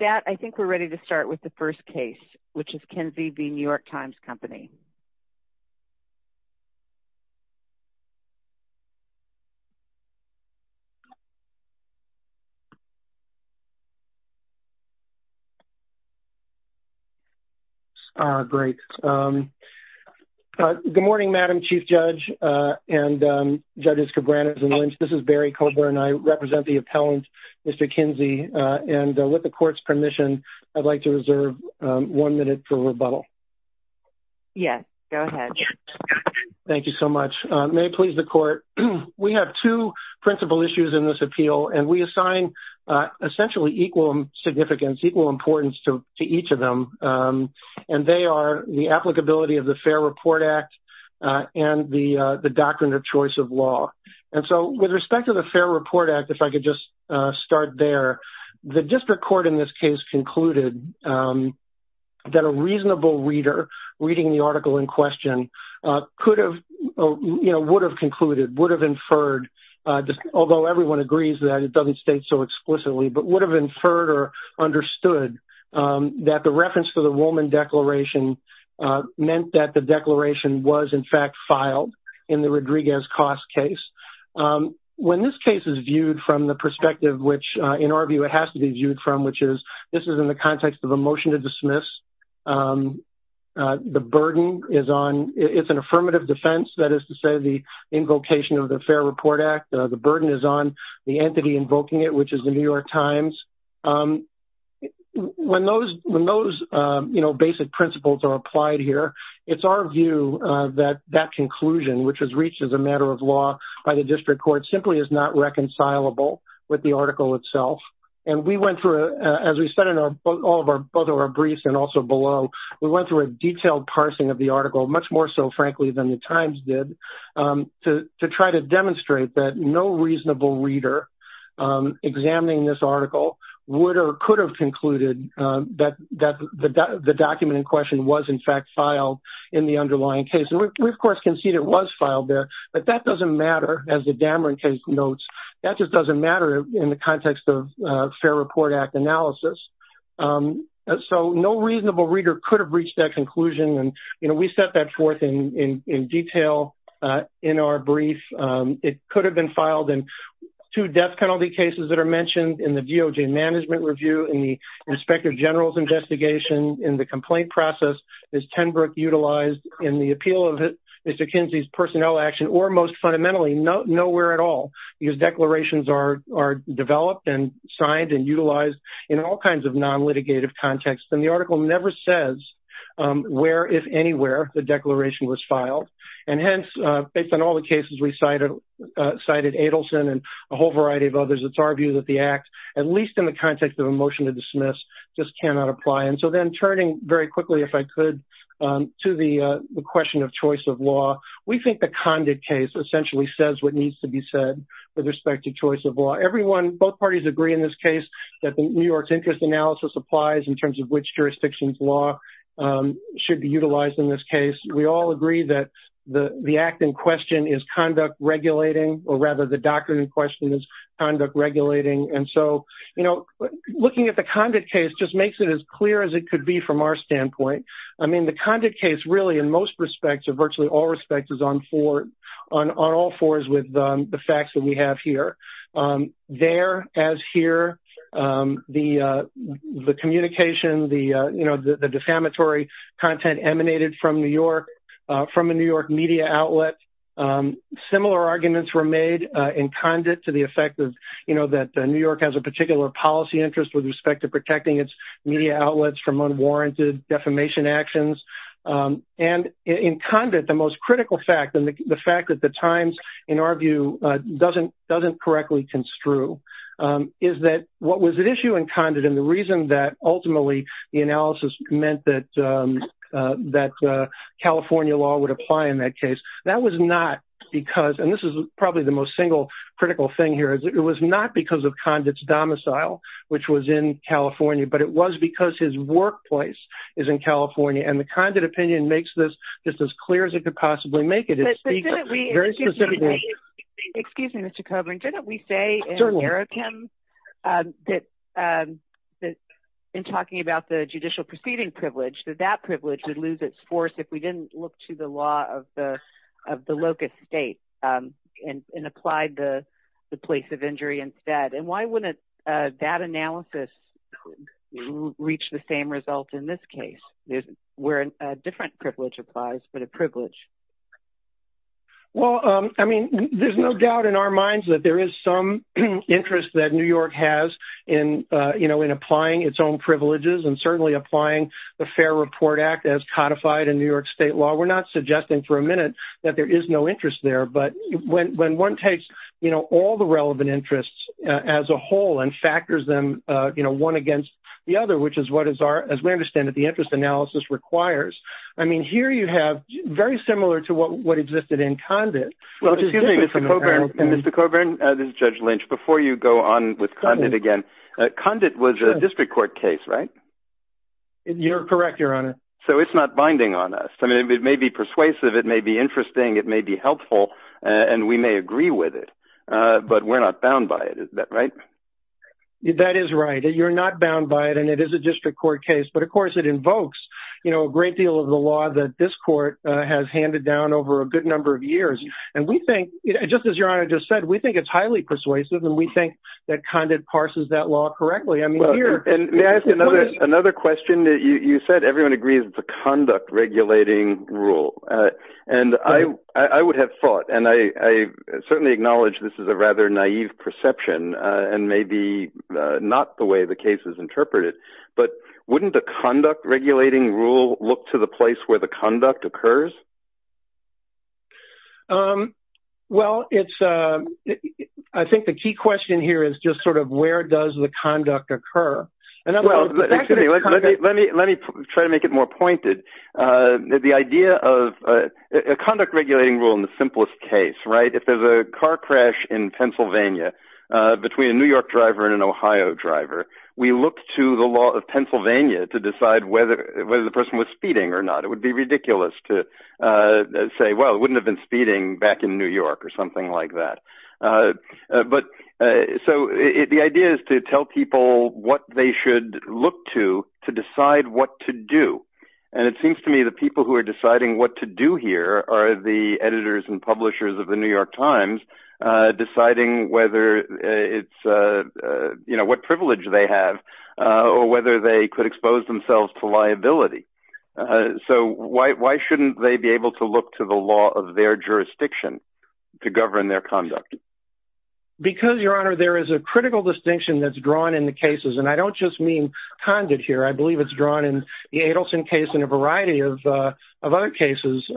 With that, I think we're ready to start with the first case, which is Kinsey v. The New York Times Company. Great. Good morning, Madam Chief Judge and Judges Cabranes and Lynch. This is Barry Coburn. And I represent the appellant, Mr. Kinsey, and with the court's permission, I'd like to reserve one minute for rebuttal. Yes, go ahead. Thank you so much. May it please the court, we have two principal issues in this appeal, and we assign essentially equal significance, equal importance to each of them. And they are the applicability of the Fair Report Act, and the the doctrine of choice of law. And so with respect to the Fair Report Act, if I could just start there, the district court in this case concluded that a reasonable reader reading the article in question could have, you know, would have concluded, would have inferred, although everyone agrees that it doesn't state so explicitly, but would have inferred or understood that the reference for the Ruhlman Declaration meant that the declaration was in fact filed in the Rodriguez Costs case. When this case is viewed from the perspective, which in our view, it has to be viewed from, which is, this is in the context of a motion to dismiss. The burden is on, it's an affirmative defense, that is to say, the invocation of the Fair Report Act, the burden is on the entity invoking it, which is the New York Times. When those, you know, basic principles are applied here, it's our view that that conclusion, which was reached as a matter of law by the district court, simply is not reconcilable with the article itself. And we went through, as we said in our, both of our briefs and also below, we went through a detailed parsing of the article, much more so, frankly, than the Times did, to try to demonstrate that no reasonable reader examining this article would or could have concluded that the document in question was in fact filed in the underlying case. And we, of course, concede it was filed there, but that doesn't matter, as the Dameron case notes, that just doesn't matter in the context of Fair Report Act analysis. So no reasonable reader could have reached that conclusion, and, you know, we set that forth in detail in our brief. It could have been filed in two death penalty cases that are mentioned in the DOJ management review, in the Inspector General's investigation, in the complaint process, as Tenbrook utilized in the appeal of Mr. Kinsey's personnel action, or most fundamentally, nowhere at all, because declarations are developed and signed and utilized in all kinds of non-litigative contexts. And the article never says where, if anywhere, the declaration was filed. And hence, based on all the cases we cited, cited Adelson and a whole variety of others, it's our view that the act, at least in the context of a motion to dismiss, just cannot apply. And so then, turning very quickly, if I could, to the question of choice of law, we think the Condit case essentially says what needs to be said with respect to choice of law. Everyone, both parties agree in this case that the New York's interest analysis applies in terms of which jurisdictions law should be utilized in this case. We all agree that the act in question is conduct regulating, or rather, the doctrine in question is conduct regulating. And so, you know, looking at the Condit case just makes it as clear as it could be from our standpoint. I mean, the Condit case, really, in most respects, or virtually all respects, is on all fours with the facts that we have here. There, as here, the communication, the defamatory content emanated from New York, from a New York media outlet. Similar arguments were made in Condit to the effect of, you know, that New York has a particular policy interest with respect to protecting its media outlets from unwarranted defamation actions. And in Condit, the most critical fact, and the fact that the Times, in our view, doesn't correctly construe, is that what was at issue in Condit, and the reason that ultimately the analysis meant that California law would apply in that case, that was not because, and this is probably the most single critical thing here, it was not because of Condit's domicile, which was in California, but it was because his workplace is in California, and the Condit opinion makes this just as clear as it could possibly make it. It speaks very specifically. Excuse me, Mr. Coburn, didn't we say in Arrokim that, in talking about the judicial proceeding privilege, that that privilege would lose its force if we didn't look to the law of the locus state, and applied the place of injury instead? And why wouldn't that analysis reach the same result in this case, where a different privilege applies, but a privilege? Well, I mean, there's no doubt in our minds that there is some interest that New York has in applying its own privileges, and certainly applying the Fair Report Act as codified in New York state law. We're not suggesting for a minute that there is no interest there, but when one takes all the relevant interests as a whole, and factors them one against the other, which is what we understand that the interest analysis requires, I mean, here you have very similar to what existed in Condit. Well, excuse me, Mr. Coburn, this is Judge Lynch. Before you go on with Condit again, Condit was a district court case, right? You're correct, Your Honor. So it's not binding on us. I mean, it may be persuasive, it may be interesting, it may be helpful, and we may agree with it, but we're not bound by it, is that right? That is right. You're not bound by it, and it is a district court case, but of course it invokes a great deal of the law that this court has handed down over a good number of years. And we think, just as Your Honor just said, we think it's highly persuasive, and we think that Condit parses that law correctly. I mean, here- May I ask another question? You said everyone agrees it's a conduct-regulating rule, and I would have thought, and I certainly acknowledge this is a rather naive perception, and maybe not the way the case is interpreted, but wouldn't a conduct-regulating rule look to the place where the conduct occurs? Well, it's- I think the key question here is just sort of where does the conduct occur? In other words- Well, excuse me, let me try to make it more pointed. The idea of a conduct-regulating rule in the simplest case, right? If there's a car crash in Pennsylvania between a New York driver and an Ohio driver, we look to the law of Pennsylvania to decide whether the person was speeding or not. It would be ridiculous to say, well, it wouldn't have been speeding back in New York or something like that. But so the idea is to tell people what they should look to to decide what to do. And it seems to me the people who are deciding what to do here are the editors and publishers of the New York Times deciding whether it's- what privilege they have or whether they could expose themselves to liability. So why shouldn't they be able to look to the law of their jurisdiction to govern their conduct? Because, Your Honor, there is a critical distinction that's drawn in the cases, and I don't just mean conduct here. I believe it's drawn in the Adelson case and a variety of other cases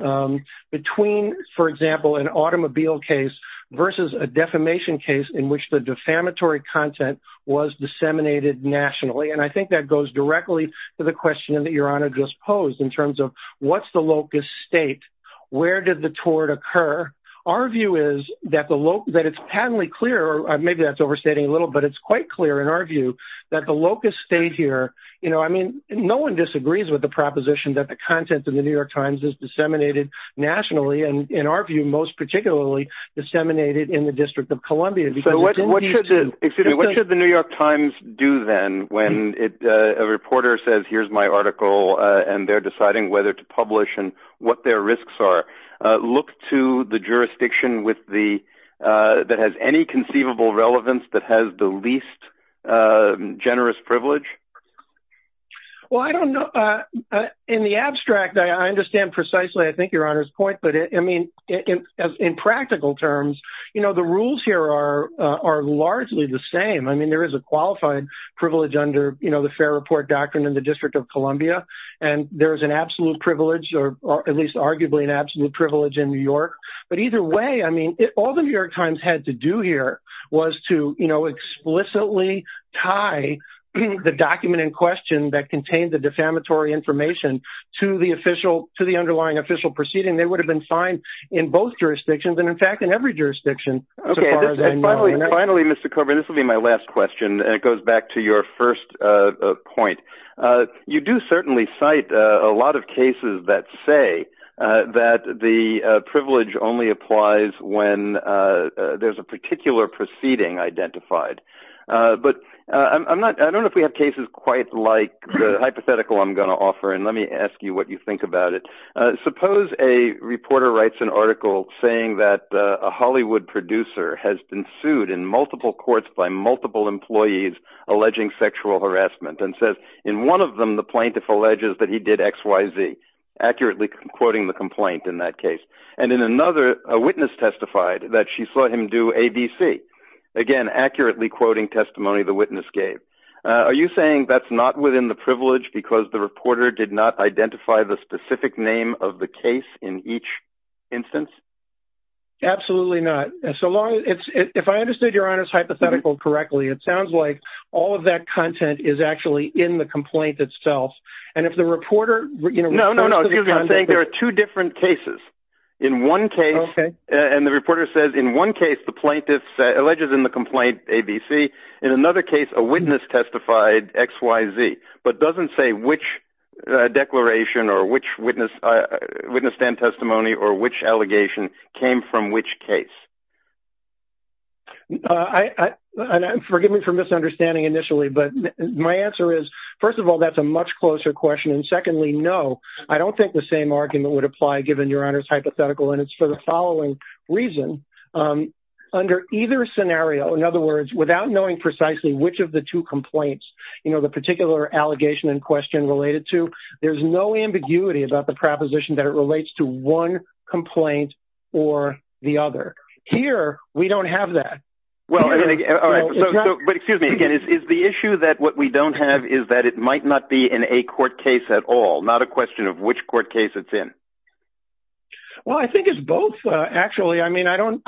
between, for example, an automobile case versus a defamation case in which the defamatory content was disseminated nationally. And I think that goes directly to the question that Your Honor just posed in terms of what's the locus state? Where did the tort occur? Our view is that the locus- that it's patently clear, maybe that's overstating a little, but it's quite clear in our view that the locus state here, you know, I mean, no one disagrees with the proposition that the content in the New York Times is disseminated nationally. And in our view, most particularly disseminated in the District of Columbia. So what should the New York Times do then when a reporter says, here's my article, and they're deciding whether to publish and what their risks are? Look to the jurisdiction with the- that has any conceivable relevance that has the least generous privilege? Well, I don't know. In the abstract, I understand precisely, I think Your Honor's point, but I mean, in practical terms, you know, the rules here are largely the same. I mean, there is a qualified privilege under, you know, the Fair Report Doctrine in the District of Columbia. And there is an absolute privilege, or at least arguably an absolute privilege in New York. But either way, I mean, all the New York Times had to do here was to, you know, explicitly tie the document in question that contained the defamatory information to the official- to the underlying official proceeding. They would have been fine in both jurisdictions, and in fact, in every jurisdiction, as far as I know. Okay. And finally, Mr. Coburn, this will be my last question, and it goes back to your first point. You do certainly cite a lot of cases that say that the privilege only applies when there's a particular proceeding identified. But I'm not- I don't know if we have cases quite like the hypothetical I'm going to offer, and let me ask you what you think about it. Suppose a reporter writes an article saying that a Hollywood producer has been sued in multiple courts by multiple employees alleging sexual harassment, and says in one of them the plaintiff alleges that he did X, Y, Z, accurately quoting the complaint in that case. And in another, a witness testified that she saw him do A, B, C, again, accurately quoting testimony the witness gave. Are you saying that's not within the privilege because the reporter did not identify the specific name of the case in each instance? Absolutely not. So long as it's- if I understood your Honor's hypothetical correctly, it sounds like all of that content is actually in the complaint itself. And if the reporter- No, no, no. I'm saying there are two different cases. In one case- Okay. And the reporter says in one case the plaintiff alleges in the complaint A, B, C, in another case a witness testified X, Y, Z, but doesn't say which declaration or which witness- witness and testimony or which allegation came from which case. I- and forgive me for misunderstanding initially, but my answer is, first of all, that's a much closer question. And secondly, no, I don't think the same argument would apply given your Honor's hypothetical. And it's for the following reason. Under either scenario, in other words, without knowing precisely which of the two complaints, you know, the particular allegation in question related to, there's no ambiguity about the proposition that it relates to one complaint or the other. Here we don't have that. Well, I mean- All right. So- But excuse me, again, is the issue that what we don't have is that it might not be in a court case at all, not a question of which court case it's in? Well, I think it's both, actually. I mean, I don't-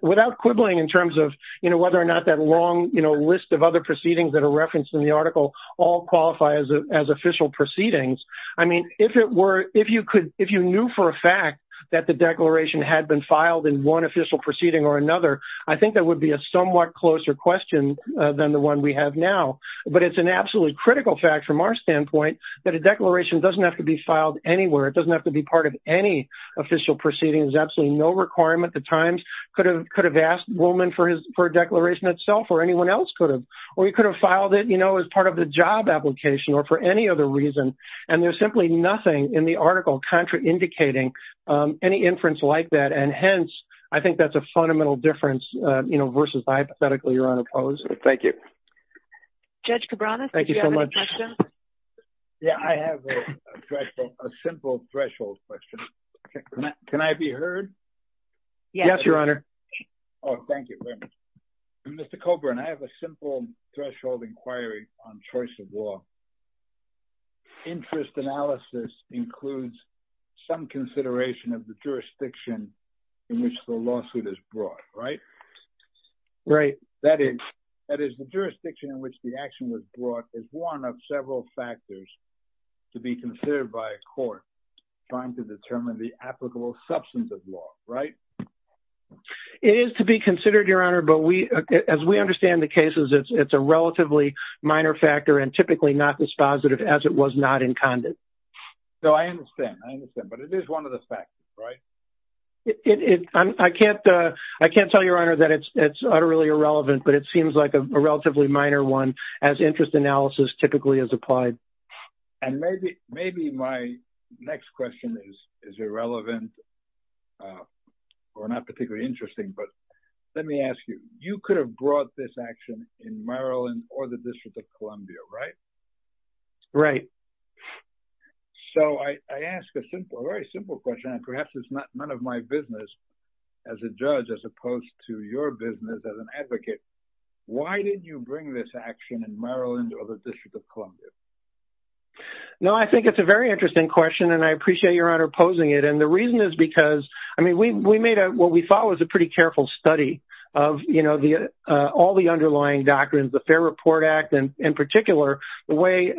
without quibbling in terms of, you know, whether or not that long, you know, list of other proceedings that are referenced in the article all qualify as official proceedings, I mean, if it were- if you could- if you knew for a fact that the declaration had been filed in one official proceeding or another, I think that would be a somewhat closer question than the one we have now. But it's an absolutely critical fact from our standpoint that a declaration doesn't have to be filed anywhere. It doesn't have to be part of any official proceedings, absolutely no requirement. The Times could have asked Woolman for a declaration itself or anyone else could have, or he could have filed it, you know, as part of the job application or for any other reason. And there's simply nothing in the article contra-indicating any inference like that. And hence, I think that's a fundamental difference, you know, versus hypothetically you're unopposed. Thank you. Judge Cabranes, do you have any questions? Thank you so much. Yeah, I have a threshold- a simple threshold question. Can I be heard? Yes. Yes, Your Honor. Oh, thank you very much. Mr. Coburn, I have a simple threshold inquiry on choice of law. Interest analysis includes some consideration of the jurisdiction in which the lawsuit is brought, right? Right. That is, that is the jurisdiction in which the action was brought is one of several factors to be considered by a court trying to determine the applicable substance of law, right? It is to be considered, Your Honor, but we, as we understand the cases, it's a relatively minor factor and typically not dispositive as it was not incandescent. So, I understand, I understand, but it is one of the factors, right? It, it, I can't, I can't tell Your Honor that it's, it's utterly irrelevant, but it seems like a relatively minor one as interest analysis typically is applied. And maybe, maybe my next question is, is irrelevant or not particularly interesting, but let me ask you, you could have brought this action in Maryland or the District of Columbia, right? Right. So, I, I ask a simple, a very simple question and perhaps it's none of my business as a judge as opposed to your business as an advocate. Why did you bring this action in Maryland or the District of Columbia? No, I think it's a very interesting question and I appreciate Your Honor posing it. And the reason is because, I mean, we, we made a, what we thought was a pretty careful study of, you know, the, all the underlying doctrines, the Fair Report Act and in particular, the way,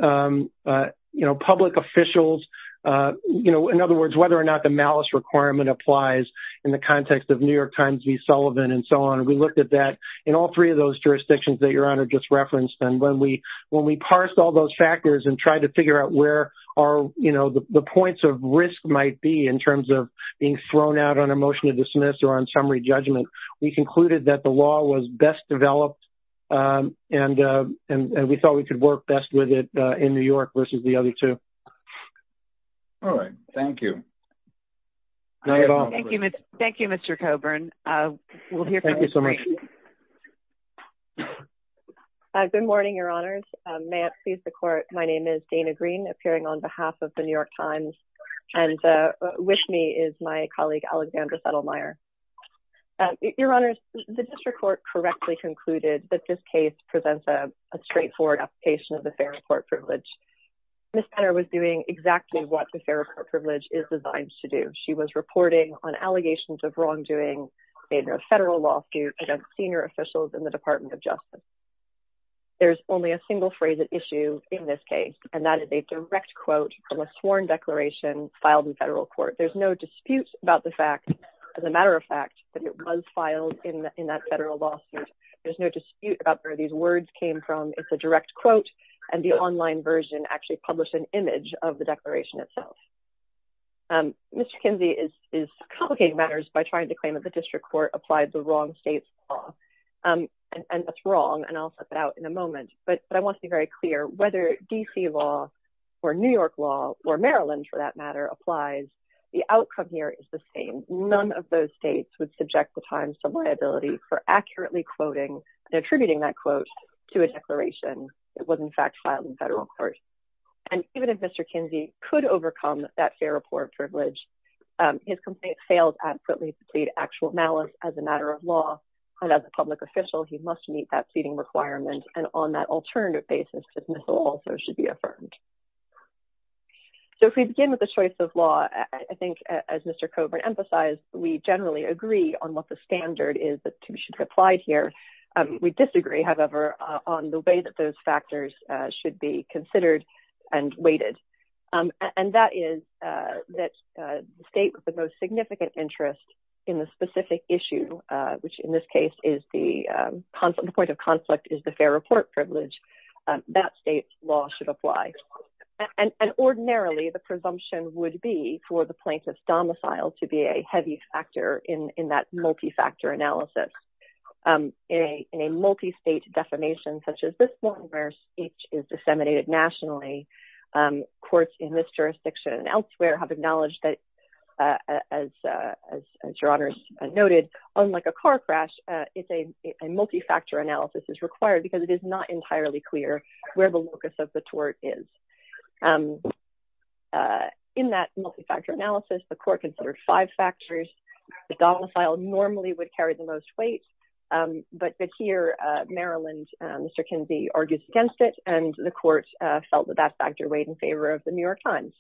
you know, public officials, you know, in other words, whether or not the malice requirement applies in the context of New York Times v. Sullivan and so on. We looked at that in all three of those jurisdictions that Your Honor just referenced and when we, when we parsed all those factors and tried to figure out where are, you know, the points of risk might be in terms of being thrown out on a motion to dismiss or on summary judgment, we concluded that the law was best developed and, and, and we thought we could work best with it in New York versus the other two. All right. Thank you. Thank you, Mr. Coburn. We'll hear from you. Thank you so much. Good morning, Your Honors. May it please the Court. My name is Dana Green appearing on behalf of the New York Times and with me is my colleague Alexandra Settlemyer. Your Honors, the district court correctly concluded that this case presents a straightforward application of the fair report privilege. Ms. Penner was doing exactly what the fair report privilege is designed to do. She was reporting on allegations of wrongdoing in a federal lawsuit against senior officials in the Department of Justice. There's only a single phrase at issue in this case, and that is a direct quote from a sworn declaration filed in federal court. There's no dispute about the fact, as a matter of fact, that it was filed in that federal lawsuit. There's no dispute about where these words came from. It's a direct quote, and the online version actually published an image of the declaration itself. Mr. Kinsey is, is complicating matters by trying to claim that the district court applied the wrong state's law, and, and that's wrong, and I'll set that out in a moment, but I want to be very clear, whether D.C. law, or New York law, or Maryland, for that matter, applies, the outcome here is the same. None of those states would subject the Times to liability for accurately quoting and attributing that quote to a declaration that was, in fact, filed in federal court, and even if Mr. Kinsey could overcome that fair report privilege, his complaint fails adequately to plead actual malice as a matter of law, and as a public official, he must meet that pleading requirement, and on that alternative basis, dismissal also should be affirmed. So if we begin with the choice of law, I think, as Mr. Coburn emphasized, we generally agree on what the standard is that should be applied here. We disagree, however, on the way that those factors should be considered and weighted, and that is that the state with the most significant interest in the specific issue, which in this case is the point of conflict, is the fair report privilege, that state's law should apply, and ordinarily, the presumption would be for the plaintiff's domicile to be a heavy factor in that multi-factor analysis. In a multi-state defamation, such as this one, where speech is disseminated nationally, courts in this jurisdiction and elsewhere have acknowledged that, as your honors noted, unlike a car crash, a multi-factor analysis is required because it is not entirely clear where the locus of the tort is. In that multi-factor analysis, the court considered five factors. The domicile normally would carry the most weight, but here, Maryland, Mr. Kinsey argues against it, and the court felt that that factor weighed in favor of the New York Times.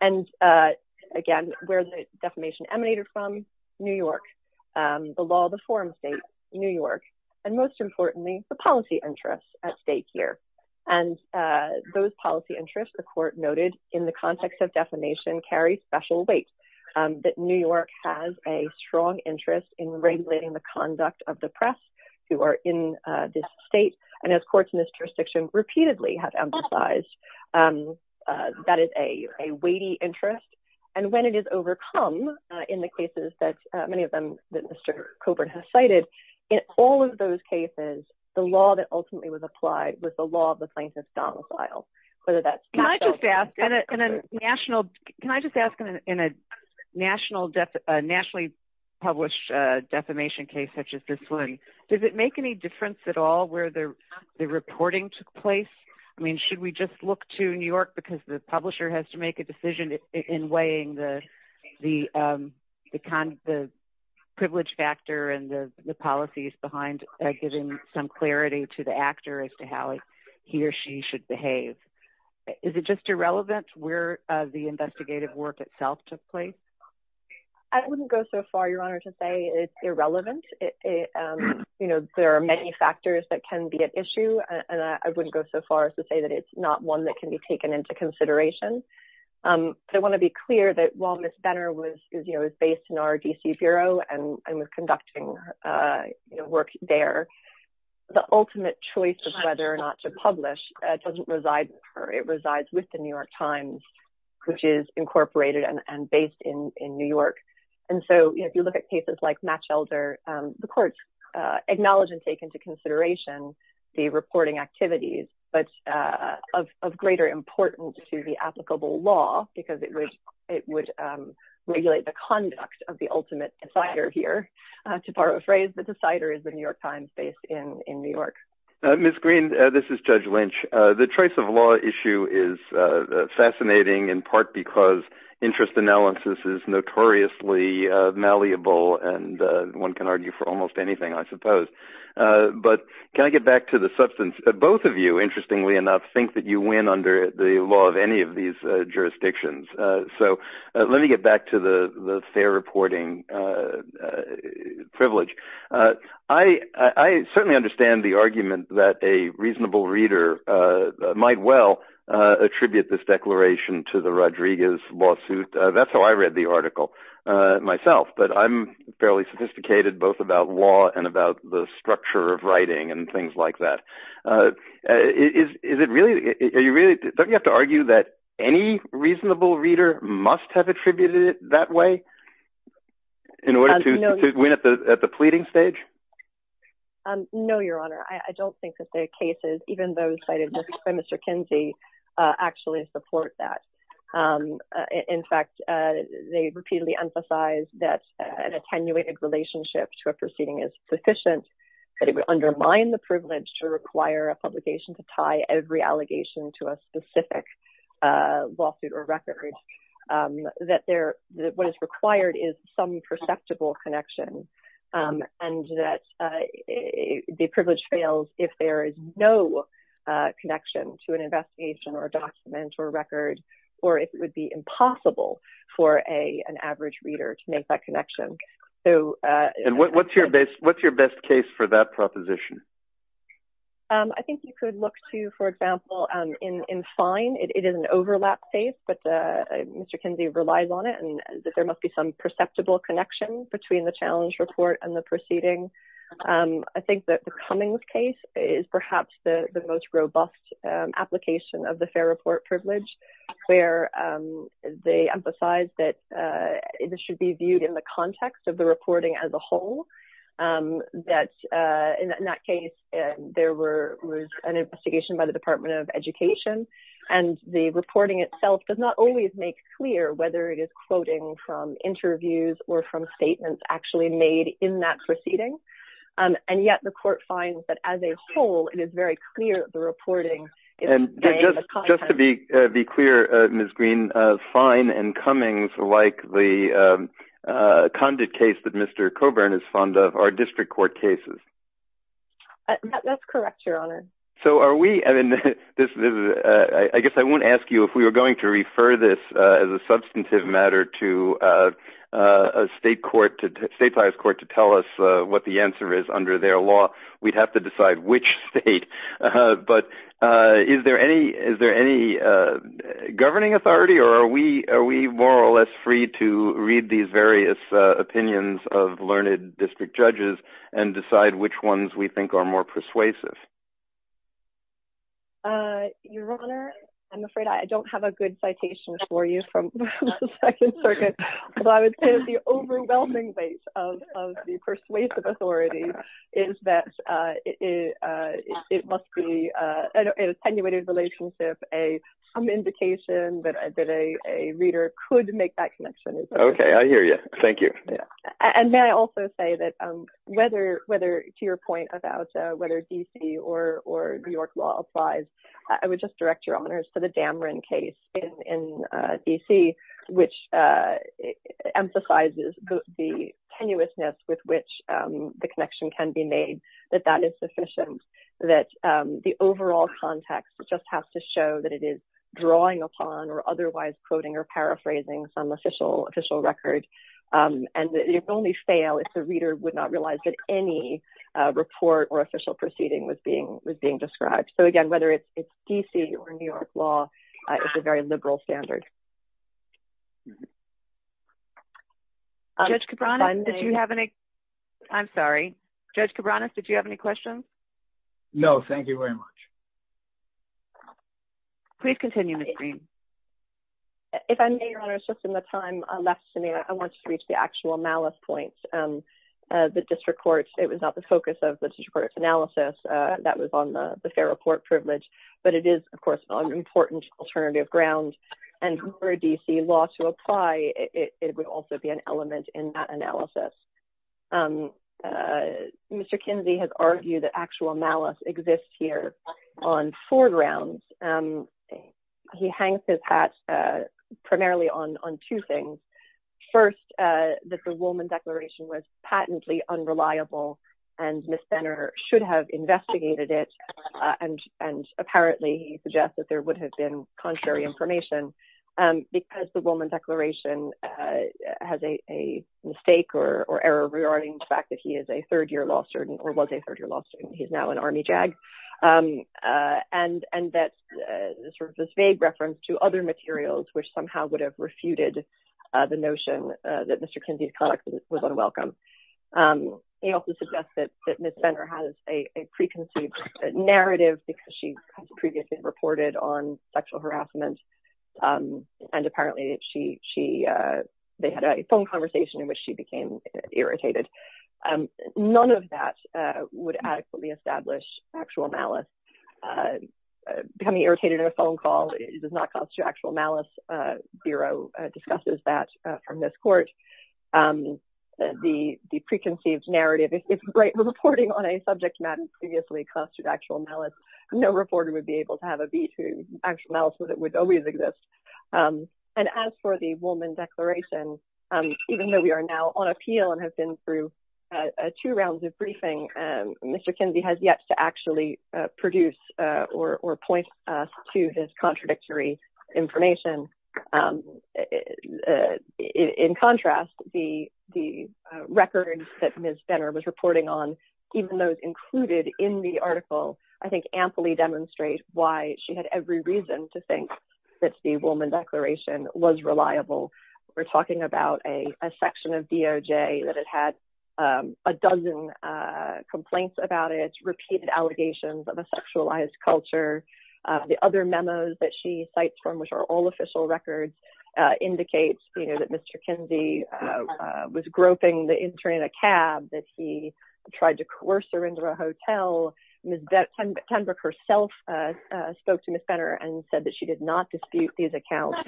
And again, where the defamation emanated from? New York. The law, the forum state, New York, and most importantly, the policy interests at stake here, and those policy interests, the court noted, in the context of defamation carry special weight, that New York has a strong interest in regulating the conduct of the press who are in this state, and as courts in this jurisdiction repeatedly have emphasized, that is a weighty interest. And when it is overcome, in the cases that many of them that Mr. Coburn has cited, in all of those cases, the law that ultimately was applied was the law of the plaintiff's domicile, whether that's- Can I just ask, in a nationally published defamation case such as this one, does it make any difference at all where the reporting took place? I mean, should we just look to New York because the publisher has to make a decision in weighing the privilege factor and the policies behind giving some clarity to the actor as to how he or she should behave? Is it just irrelevant where the investigative work itself took place? I wouldn't go so far, Your Honor, to say it's irrelevant. It, you know, there are many factors that can be at issue, and I wouldn't go so far as to say that it's not one that can be taken into consideration. But I want to be clear that while Ms. Benner was, you know, is based in our D.C. Bureau and was conducting work there, the ultimate choice of whether or not to publish doesn't reside with her, it resides with the New York Times, which is incorporated and based in New York. And so, you know, if you look at cases like Matchelder, the courts acknowledge and take into consideration the reporting activities, but of greater importance to the applicable law because it would regulate the conduct of the ultimate decider here. To borrow a phrase, the decider is the New York Times based in New York. Ms. Green, this is Judge Lynch. The choice of law issue is fascinating in part because interest analysis is notoriously malleable, and one can argue for almost anything, I suppose. But can I get back to the substance? Both of you, interestingly enough, think that you win under the law of any of these jurisdictions. So let me get back to the fair reporting privilege. I certainly understand the argument that a reasonable reader might well attribute this declaration to the Rodriguez lawsuit. That's how I read the article myself. But I'm fairly sophisticated, both about law and about the structure of writing and things like that. Don't you have to argue that any reasonable reader must have attributed it that way in the proceeding stage? No, Your Honor. I don't think that the cases, even those cited by Mr. Kinsey, actually support that. In fact, they repeatedly emphasize that an attenuated relationship to a proceeding is sufficient, but it would undermine the privilege to require a publication to tie every allegation to a specific lawsuit or record, that what is required is some perceptible connection. And that the privilege fails if there is no connection to an investigation or document or record, or it would be impossible for an average reader to make that connection. And what's your best case for that proposition? I think you could look to, for example, in fine, it is an overlap case, but Mr. Kinsey relies on it and that there must be some perceptible connection between the challenge report and the proceeding. I think that the Cummings case is perhaps the most robust application of the fair report privilege, where they emphasize that this should be viewed in the context of the reporting as a whole. That in that case, there was an investigation by the Department of Education, and the reporting itself does not always make clear whether it is quoting from interviews or from statements actually made in that proceeding. And yet the court finds that as a whole, it is very clear that the reporting is... And just to be clear, Ms. Green, fine and Cummings, like the Condit case that Mr. Coburn is fond of, are district court cases. That's correct, Your Honor. So are we... I guess I won't ask you if we are going to refer this as a substantive matter to a state court, state bias court to tell us what the answer is under their law. We'd have to decide which state, but is there any governing authority or are we more or less free to read these various opinions of learned district judges and decide which ones we think are more persuasive? Your Honor, I'm afraid I don't have a good citation for you from the Second Circuit. But I would say the overwhelming weight of the persuasive authority is that it must be an attenuated relationship, some indication that a reader could make that connection. Okay, I hear you. Thank you. And may I also say that whether, to your point about whether DC or New York law applies, I would just direct your honors to the Dameron case in DC, which emphasizes the tenuousness with which the connection can be made, that that is sufficient, that the overall context just has to show that it is drawing upon or otherwise quoting or paraphrasing some official record. And if only fail, if the reader would not realize that any report or official proceeding was being described. So again, whether it's DC or New York law, it's a very liberal standard. Judge Cabranes, did you have any? I'm sorry. Judge Cabranes, did you have any questions? No, thank you very much. Please continue, Ms. Green. If I may, your honors, just in the time left to me, I want to reach the actual malice points. The district court, it was not the focus of the district court's analysis. That was on the fair report privilege. But it is, of course, an important alternative ground. And for DC law to apply, it would also be an element in that analysis. Mr. Kinsey has argued that actual malice exists here on four grounds. And he hangs his hat primarily on two things. First, that the Woolman Declaration was patently unreliable and Ms. Senner should have investigated it. And apparently, he suggests that there would have been contrary information because the Woolman Declaration has a mistake or error regarding the fact that he is a third-year law student or was a third-year law student. He's now an Army JAG. And that this vague reference to other materials, which somehow would have refuted the notion that Mr. Kinsey's conduct was unwelcome. He also suggests that Ms. Senner has a preconceived narrative because she has previously reported on sexual harassment. And apparently, they had a phone conversation in which she became irritated. And none of that would adequately establish actual malice. Becoming irritated at a phone call does not constitute actual malice. Bureau discusses that from this court. The preconceived narrative, if reporting on a subject matter previously constituted actual malice, no reporter would be able to have a veto. Actual malice would always exist. And as for the Woolman Declaration, even though we are now on appeal and have been through two rounds of briefing, Mr. Kinsey has yet to actually produce or point us to his contradictory information. In contrast, the records that Ms. Senner was reporting on, even those included in the article, I think, amply demonstrate why she had every reason to think that the Woolman Declaration was reliable. We're talking about a section of DOJ that had had a dozen complaints about it, repeated allegations of a sexualized culture. The other memos that she cites, from which are all official records, indicates that Mr. Kinsey was groping the intern in a cab, that he tried to coerce her into a hotel. Ms. Tenbrook herself spoke to Ms. Senner and said that she did not dispute these accounts.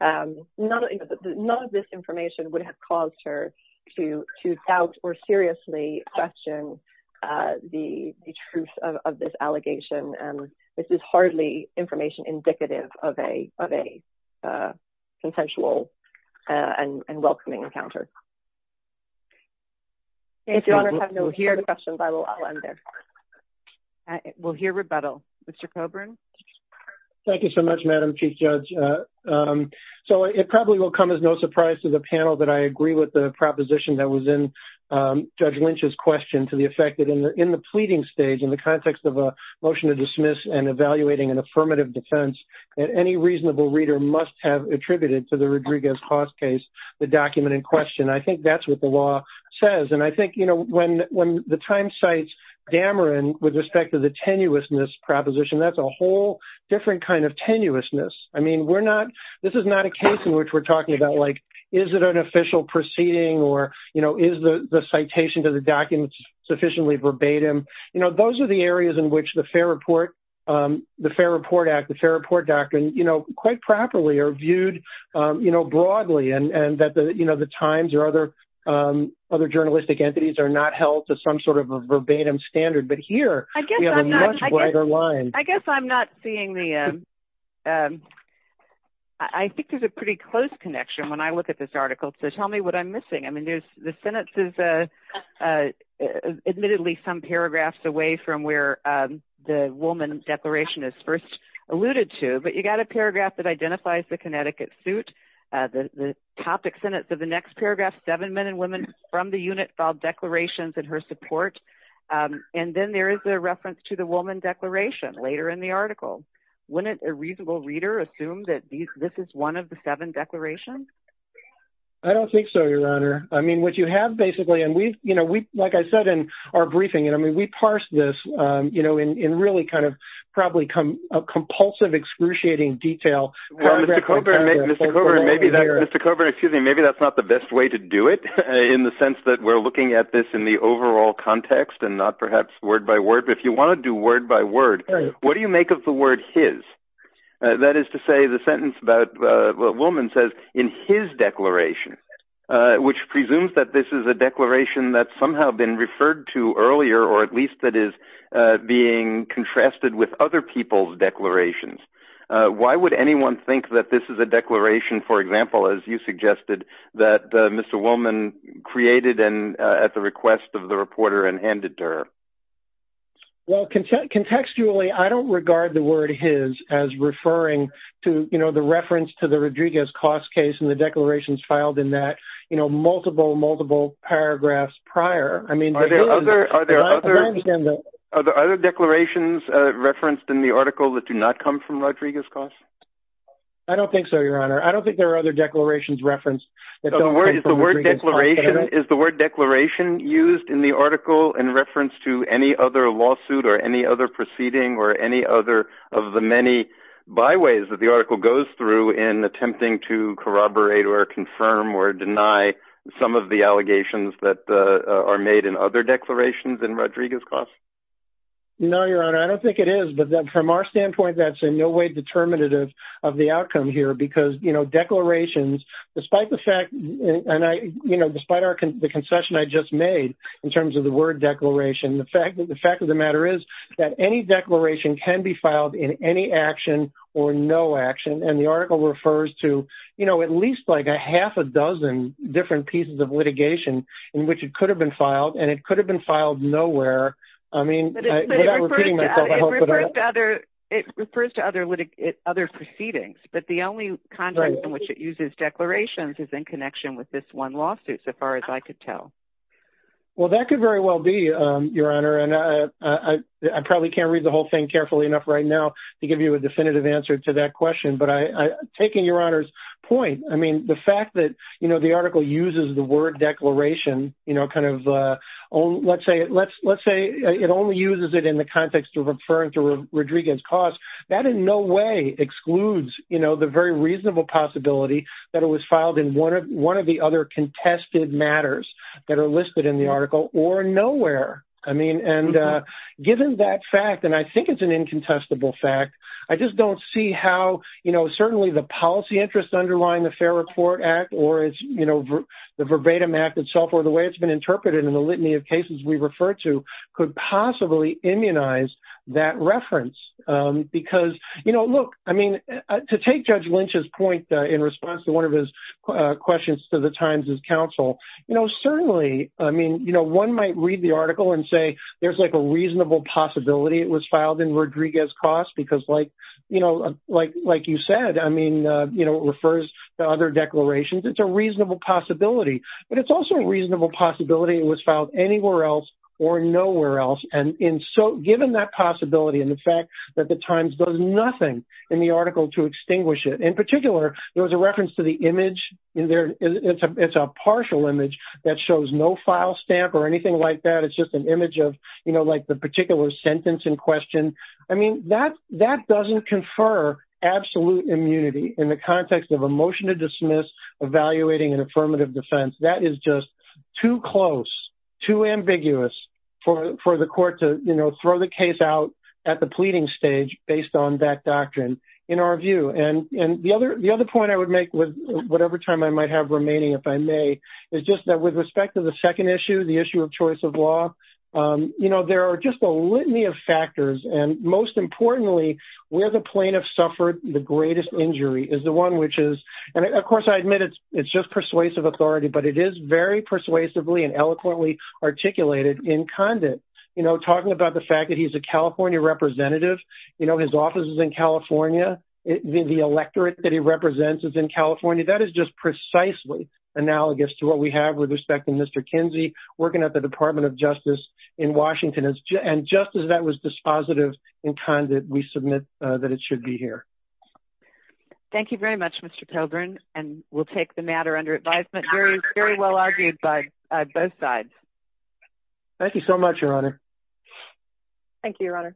None of this information would have caused her to doubt or seriously question the truth of this allegation. This is hardly information indicative of a consensual and welcoming encounter. If your Honour have no further questions, I will end there. We'll hear rebuttal. Mr. Coburn? Thank you so much, Madam Chief Judge. So it probably will come as no surprise to the panel that I agree with the proposition that was in Judge Lynch's question to the effect that in the pleading stage, in the context of a motion to dismiss and evaluating an affirmative defense, that any reasonable reader must have attributed to the Rodriguez-Haas case, the document in question. I think that's what the law says. I think when the Times cites Dameron with respect to the tenuousness proposition, that's a whole different kind of tenuousness. This is not a case in which we're talking about, like, is it an official proceeding or is the citation to the document sufficiently verbatim? Those are the areas in which the Fair Report Act, the Fair Report Doctrine, quite properly are viewed broadly and that the Times or other journalistic entities are not held to some sort of a verbatim standard. But here, we have a much wider line. I guess I'm not seeing the—I think there's a pretty close connection when I look at this article. So tell me what I'm missing. I mean, there's—the sentence is admittedly some paragraphs away from where the Woolman Declaration is first alluded to, but you got a paragraph that identifies the Connecticut suit, the topic sentence of the next paragraph, seven men and women from the unit filed declarations in her support. And then there is a reference to the Woolman Declaration later in the article. Wouldn't a reasonable reader assume that this is one of the seven declarations? I don't think so, Your Honor. I mean, what you have basically—and we, you know, like I said in our briefing, and really kind of probably a compulsive excruciating detail— Well, Mr. Coburn, maybe that's not the best way to do it in the sense that we're looking at this in the overall context and not perhaps word by word. But if you want to do word by word, what do you make of the word his? That is to say, the sentence about—Woolman says, in his declaration, which presumes that this is a declaration that's somehow been referred to earlier, or at least that is being contrasted with other people's declarations. Why would anyone think that this is a declaration, for example, as you suggested, that Mr. Woolman created at the request of the reporter and handed to her? Well, contextually, I don't regard the word his as referring to, you know, the reference to the Rodriguez-Cost case and the declarations filed in that, you know, multiple, multiple paragraphs prior. I mean— Are there other declarations referenced in the article that do not come from Rodriguez-Cost? I don't think so, Your Honor. I don't think there are other declarations referenced that don't come from Rodriguez-Cost. Is the word declaration used in the article in reference to any other lawsuit or any other in attempting to corroborate or confirm or deny some of the allegations that are made in other declarations in Rodriguez-Cost? No, Your Honor. I don't think it is, but from our standpoint, that's in no way determinative of the outcome here because, you know, declarations, despite the fact—and I—you know, despite the concession I just made in terms of the word declaration, the fact of the matter is that any declaration can be filed in any action or no action, and the article refers to, you know, at least like a half a dozen different pieces of litigation in which it could have been filed, and it could have been filed nowhere. I mean— But it refers to other— It refers to other proceedings, but the only context in which it uses declarations is in connection with this one lawsuit, so far as I could tell. Well, that could very well be, Your Honor, and I probably can't read the whole thing carefully enough right now to give you a definitive answer to that question, but I— taking Your Honor's point, I mean, the fact that, you know, the article uses the word declaration, you know, kind of—let's say it only uses it in the context of referring to Rodriguez-Cost, that in no way excludes, you know, the very reasonable possibility that it was filed in one of the other contested matters that are listed in the article or nowhere. I mean, and given that fact, and I think it's an incontestable fact, I just don't see how, you know, certainly the policy interest underlying the Fair Report Act or, you know, the Verbatim Act itself or the way it's been interpreted in the litany of cases we refer to could possibly immunize that reference, because, you know, look, I mean, to take Judge Lynch's point in response to one of his questions to The Times' counsel, you know, certainly, I mean, you know, one might read the article and say there's, like, a reasonable possibility it was filed in Rodriguez-Cost because, like, you know, like you said, I mean, you know, it refers to other declarations. It's a reasonable possibility, but it's also a reasonable possibility it was filed anywhere else or nowhere else, and so given that possibility and the fact that The Times does nothing in the article to extinguish it—in particular, there was a reference to the image in there—it's a partial image that shows no file stamp or anything like that. It's just an image of, you know, like the particular sentence in question. I mean, that doesn't confer absolute immunity in the context of a motion to dismiss evaluating an affirmative defense. That is just too close, too ambiguous for the court to, you know, throw the case out at the pleading stage based on that doctrine, in our view. And the other point I would make with whatever time I might have remaining, if I may, is just that with respect to the second issue, the issue of choice of law, you know, there are just a litany of factors, and most importantly, where the plaintiff suffered the greatest injury is the one which is—and, of course, I admit it's just persuasive authority, but it is very persuasively and eloquently articulated in Condit, you know, talking about the fact that he's a California representative, you know, his office is in California. The electorate that he represents is in California. That is just precisely analogous to what we have with respect to Mr. Kinsey working at the Department of Justice in Washington, and just as that was dispositive in Condit, we submit that it should be here. Thank you very much, Mr. Pilgrim, and we'll take the matter under advisement. Very, very well argued by both sides. Thank you, Your Honor.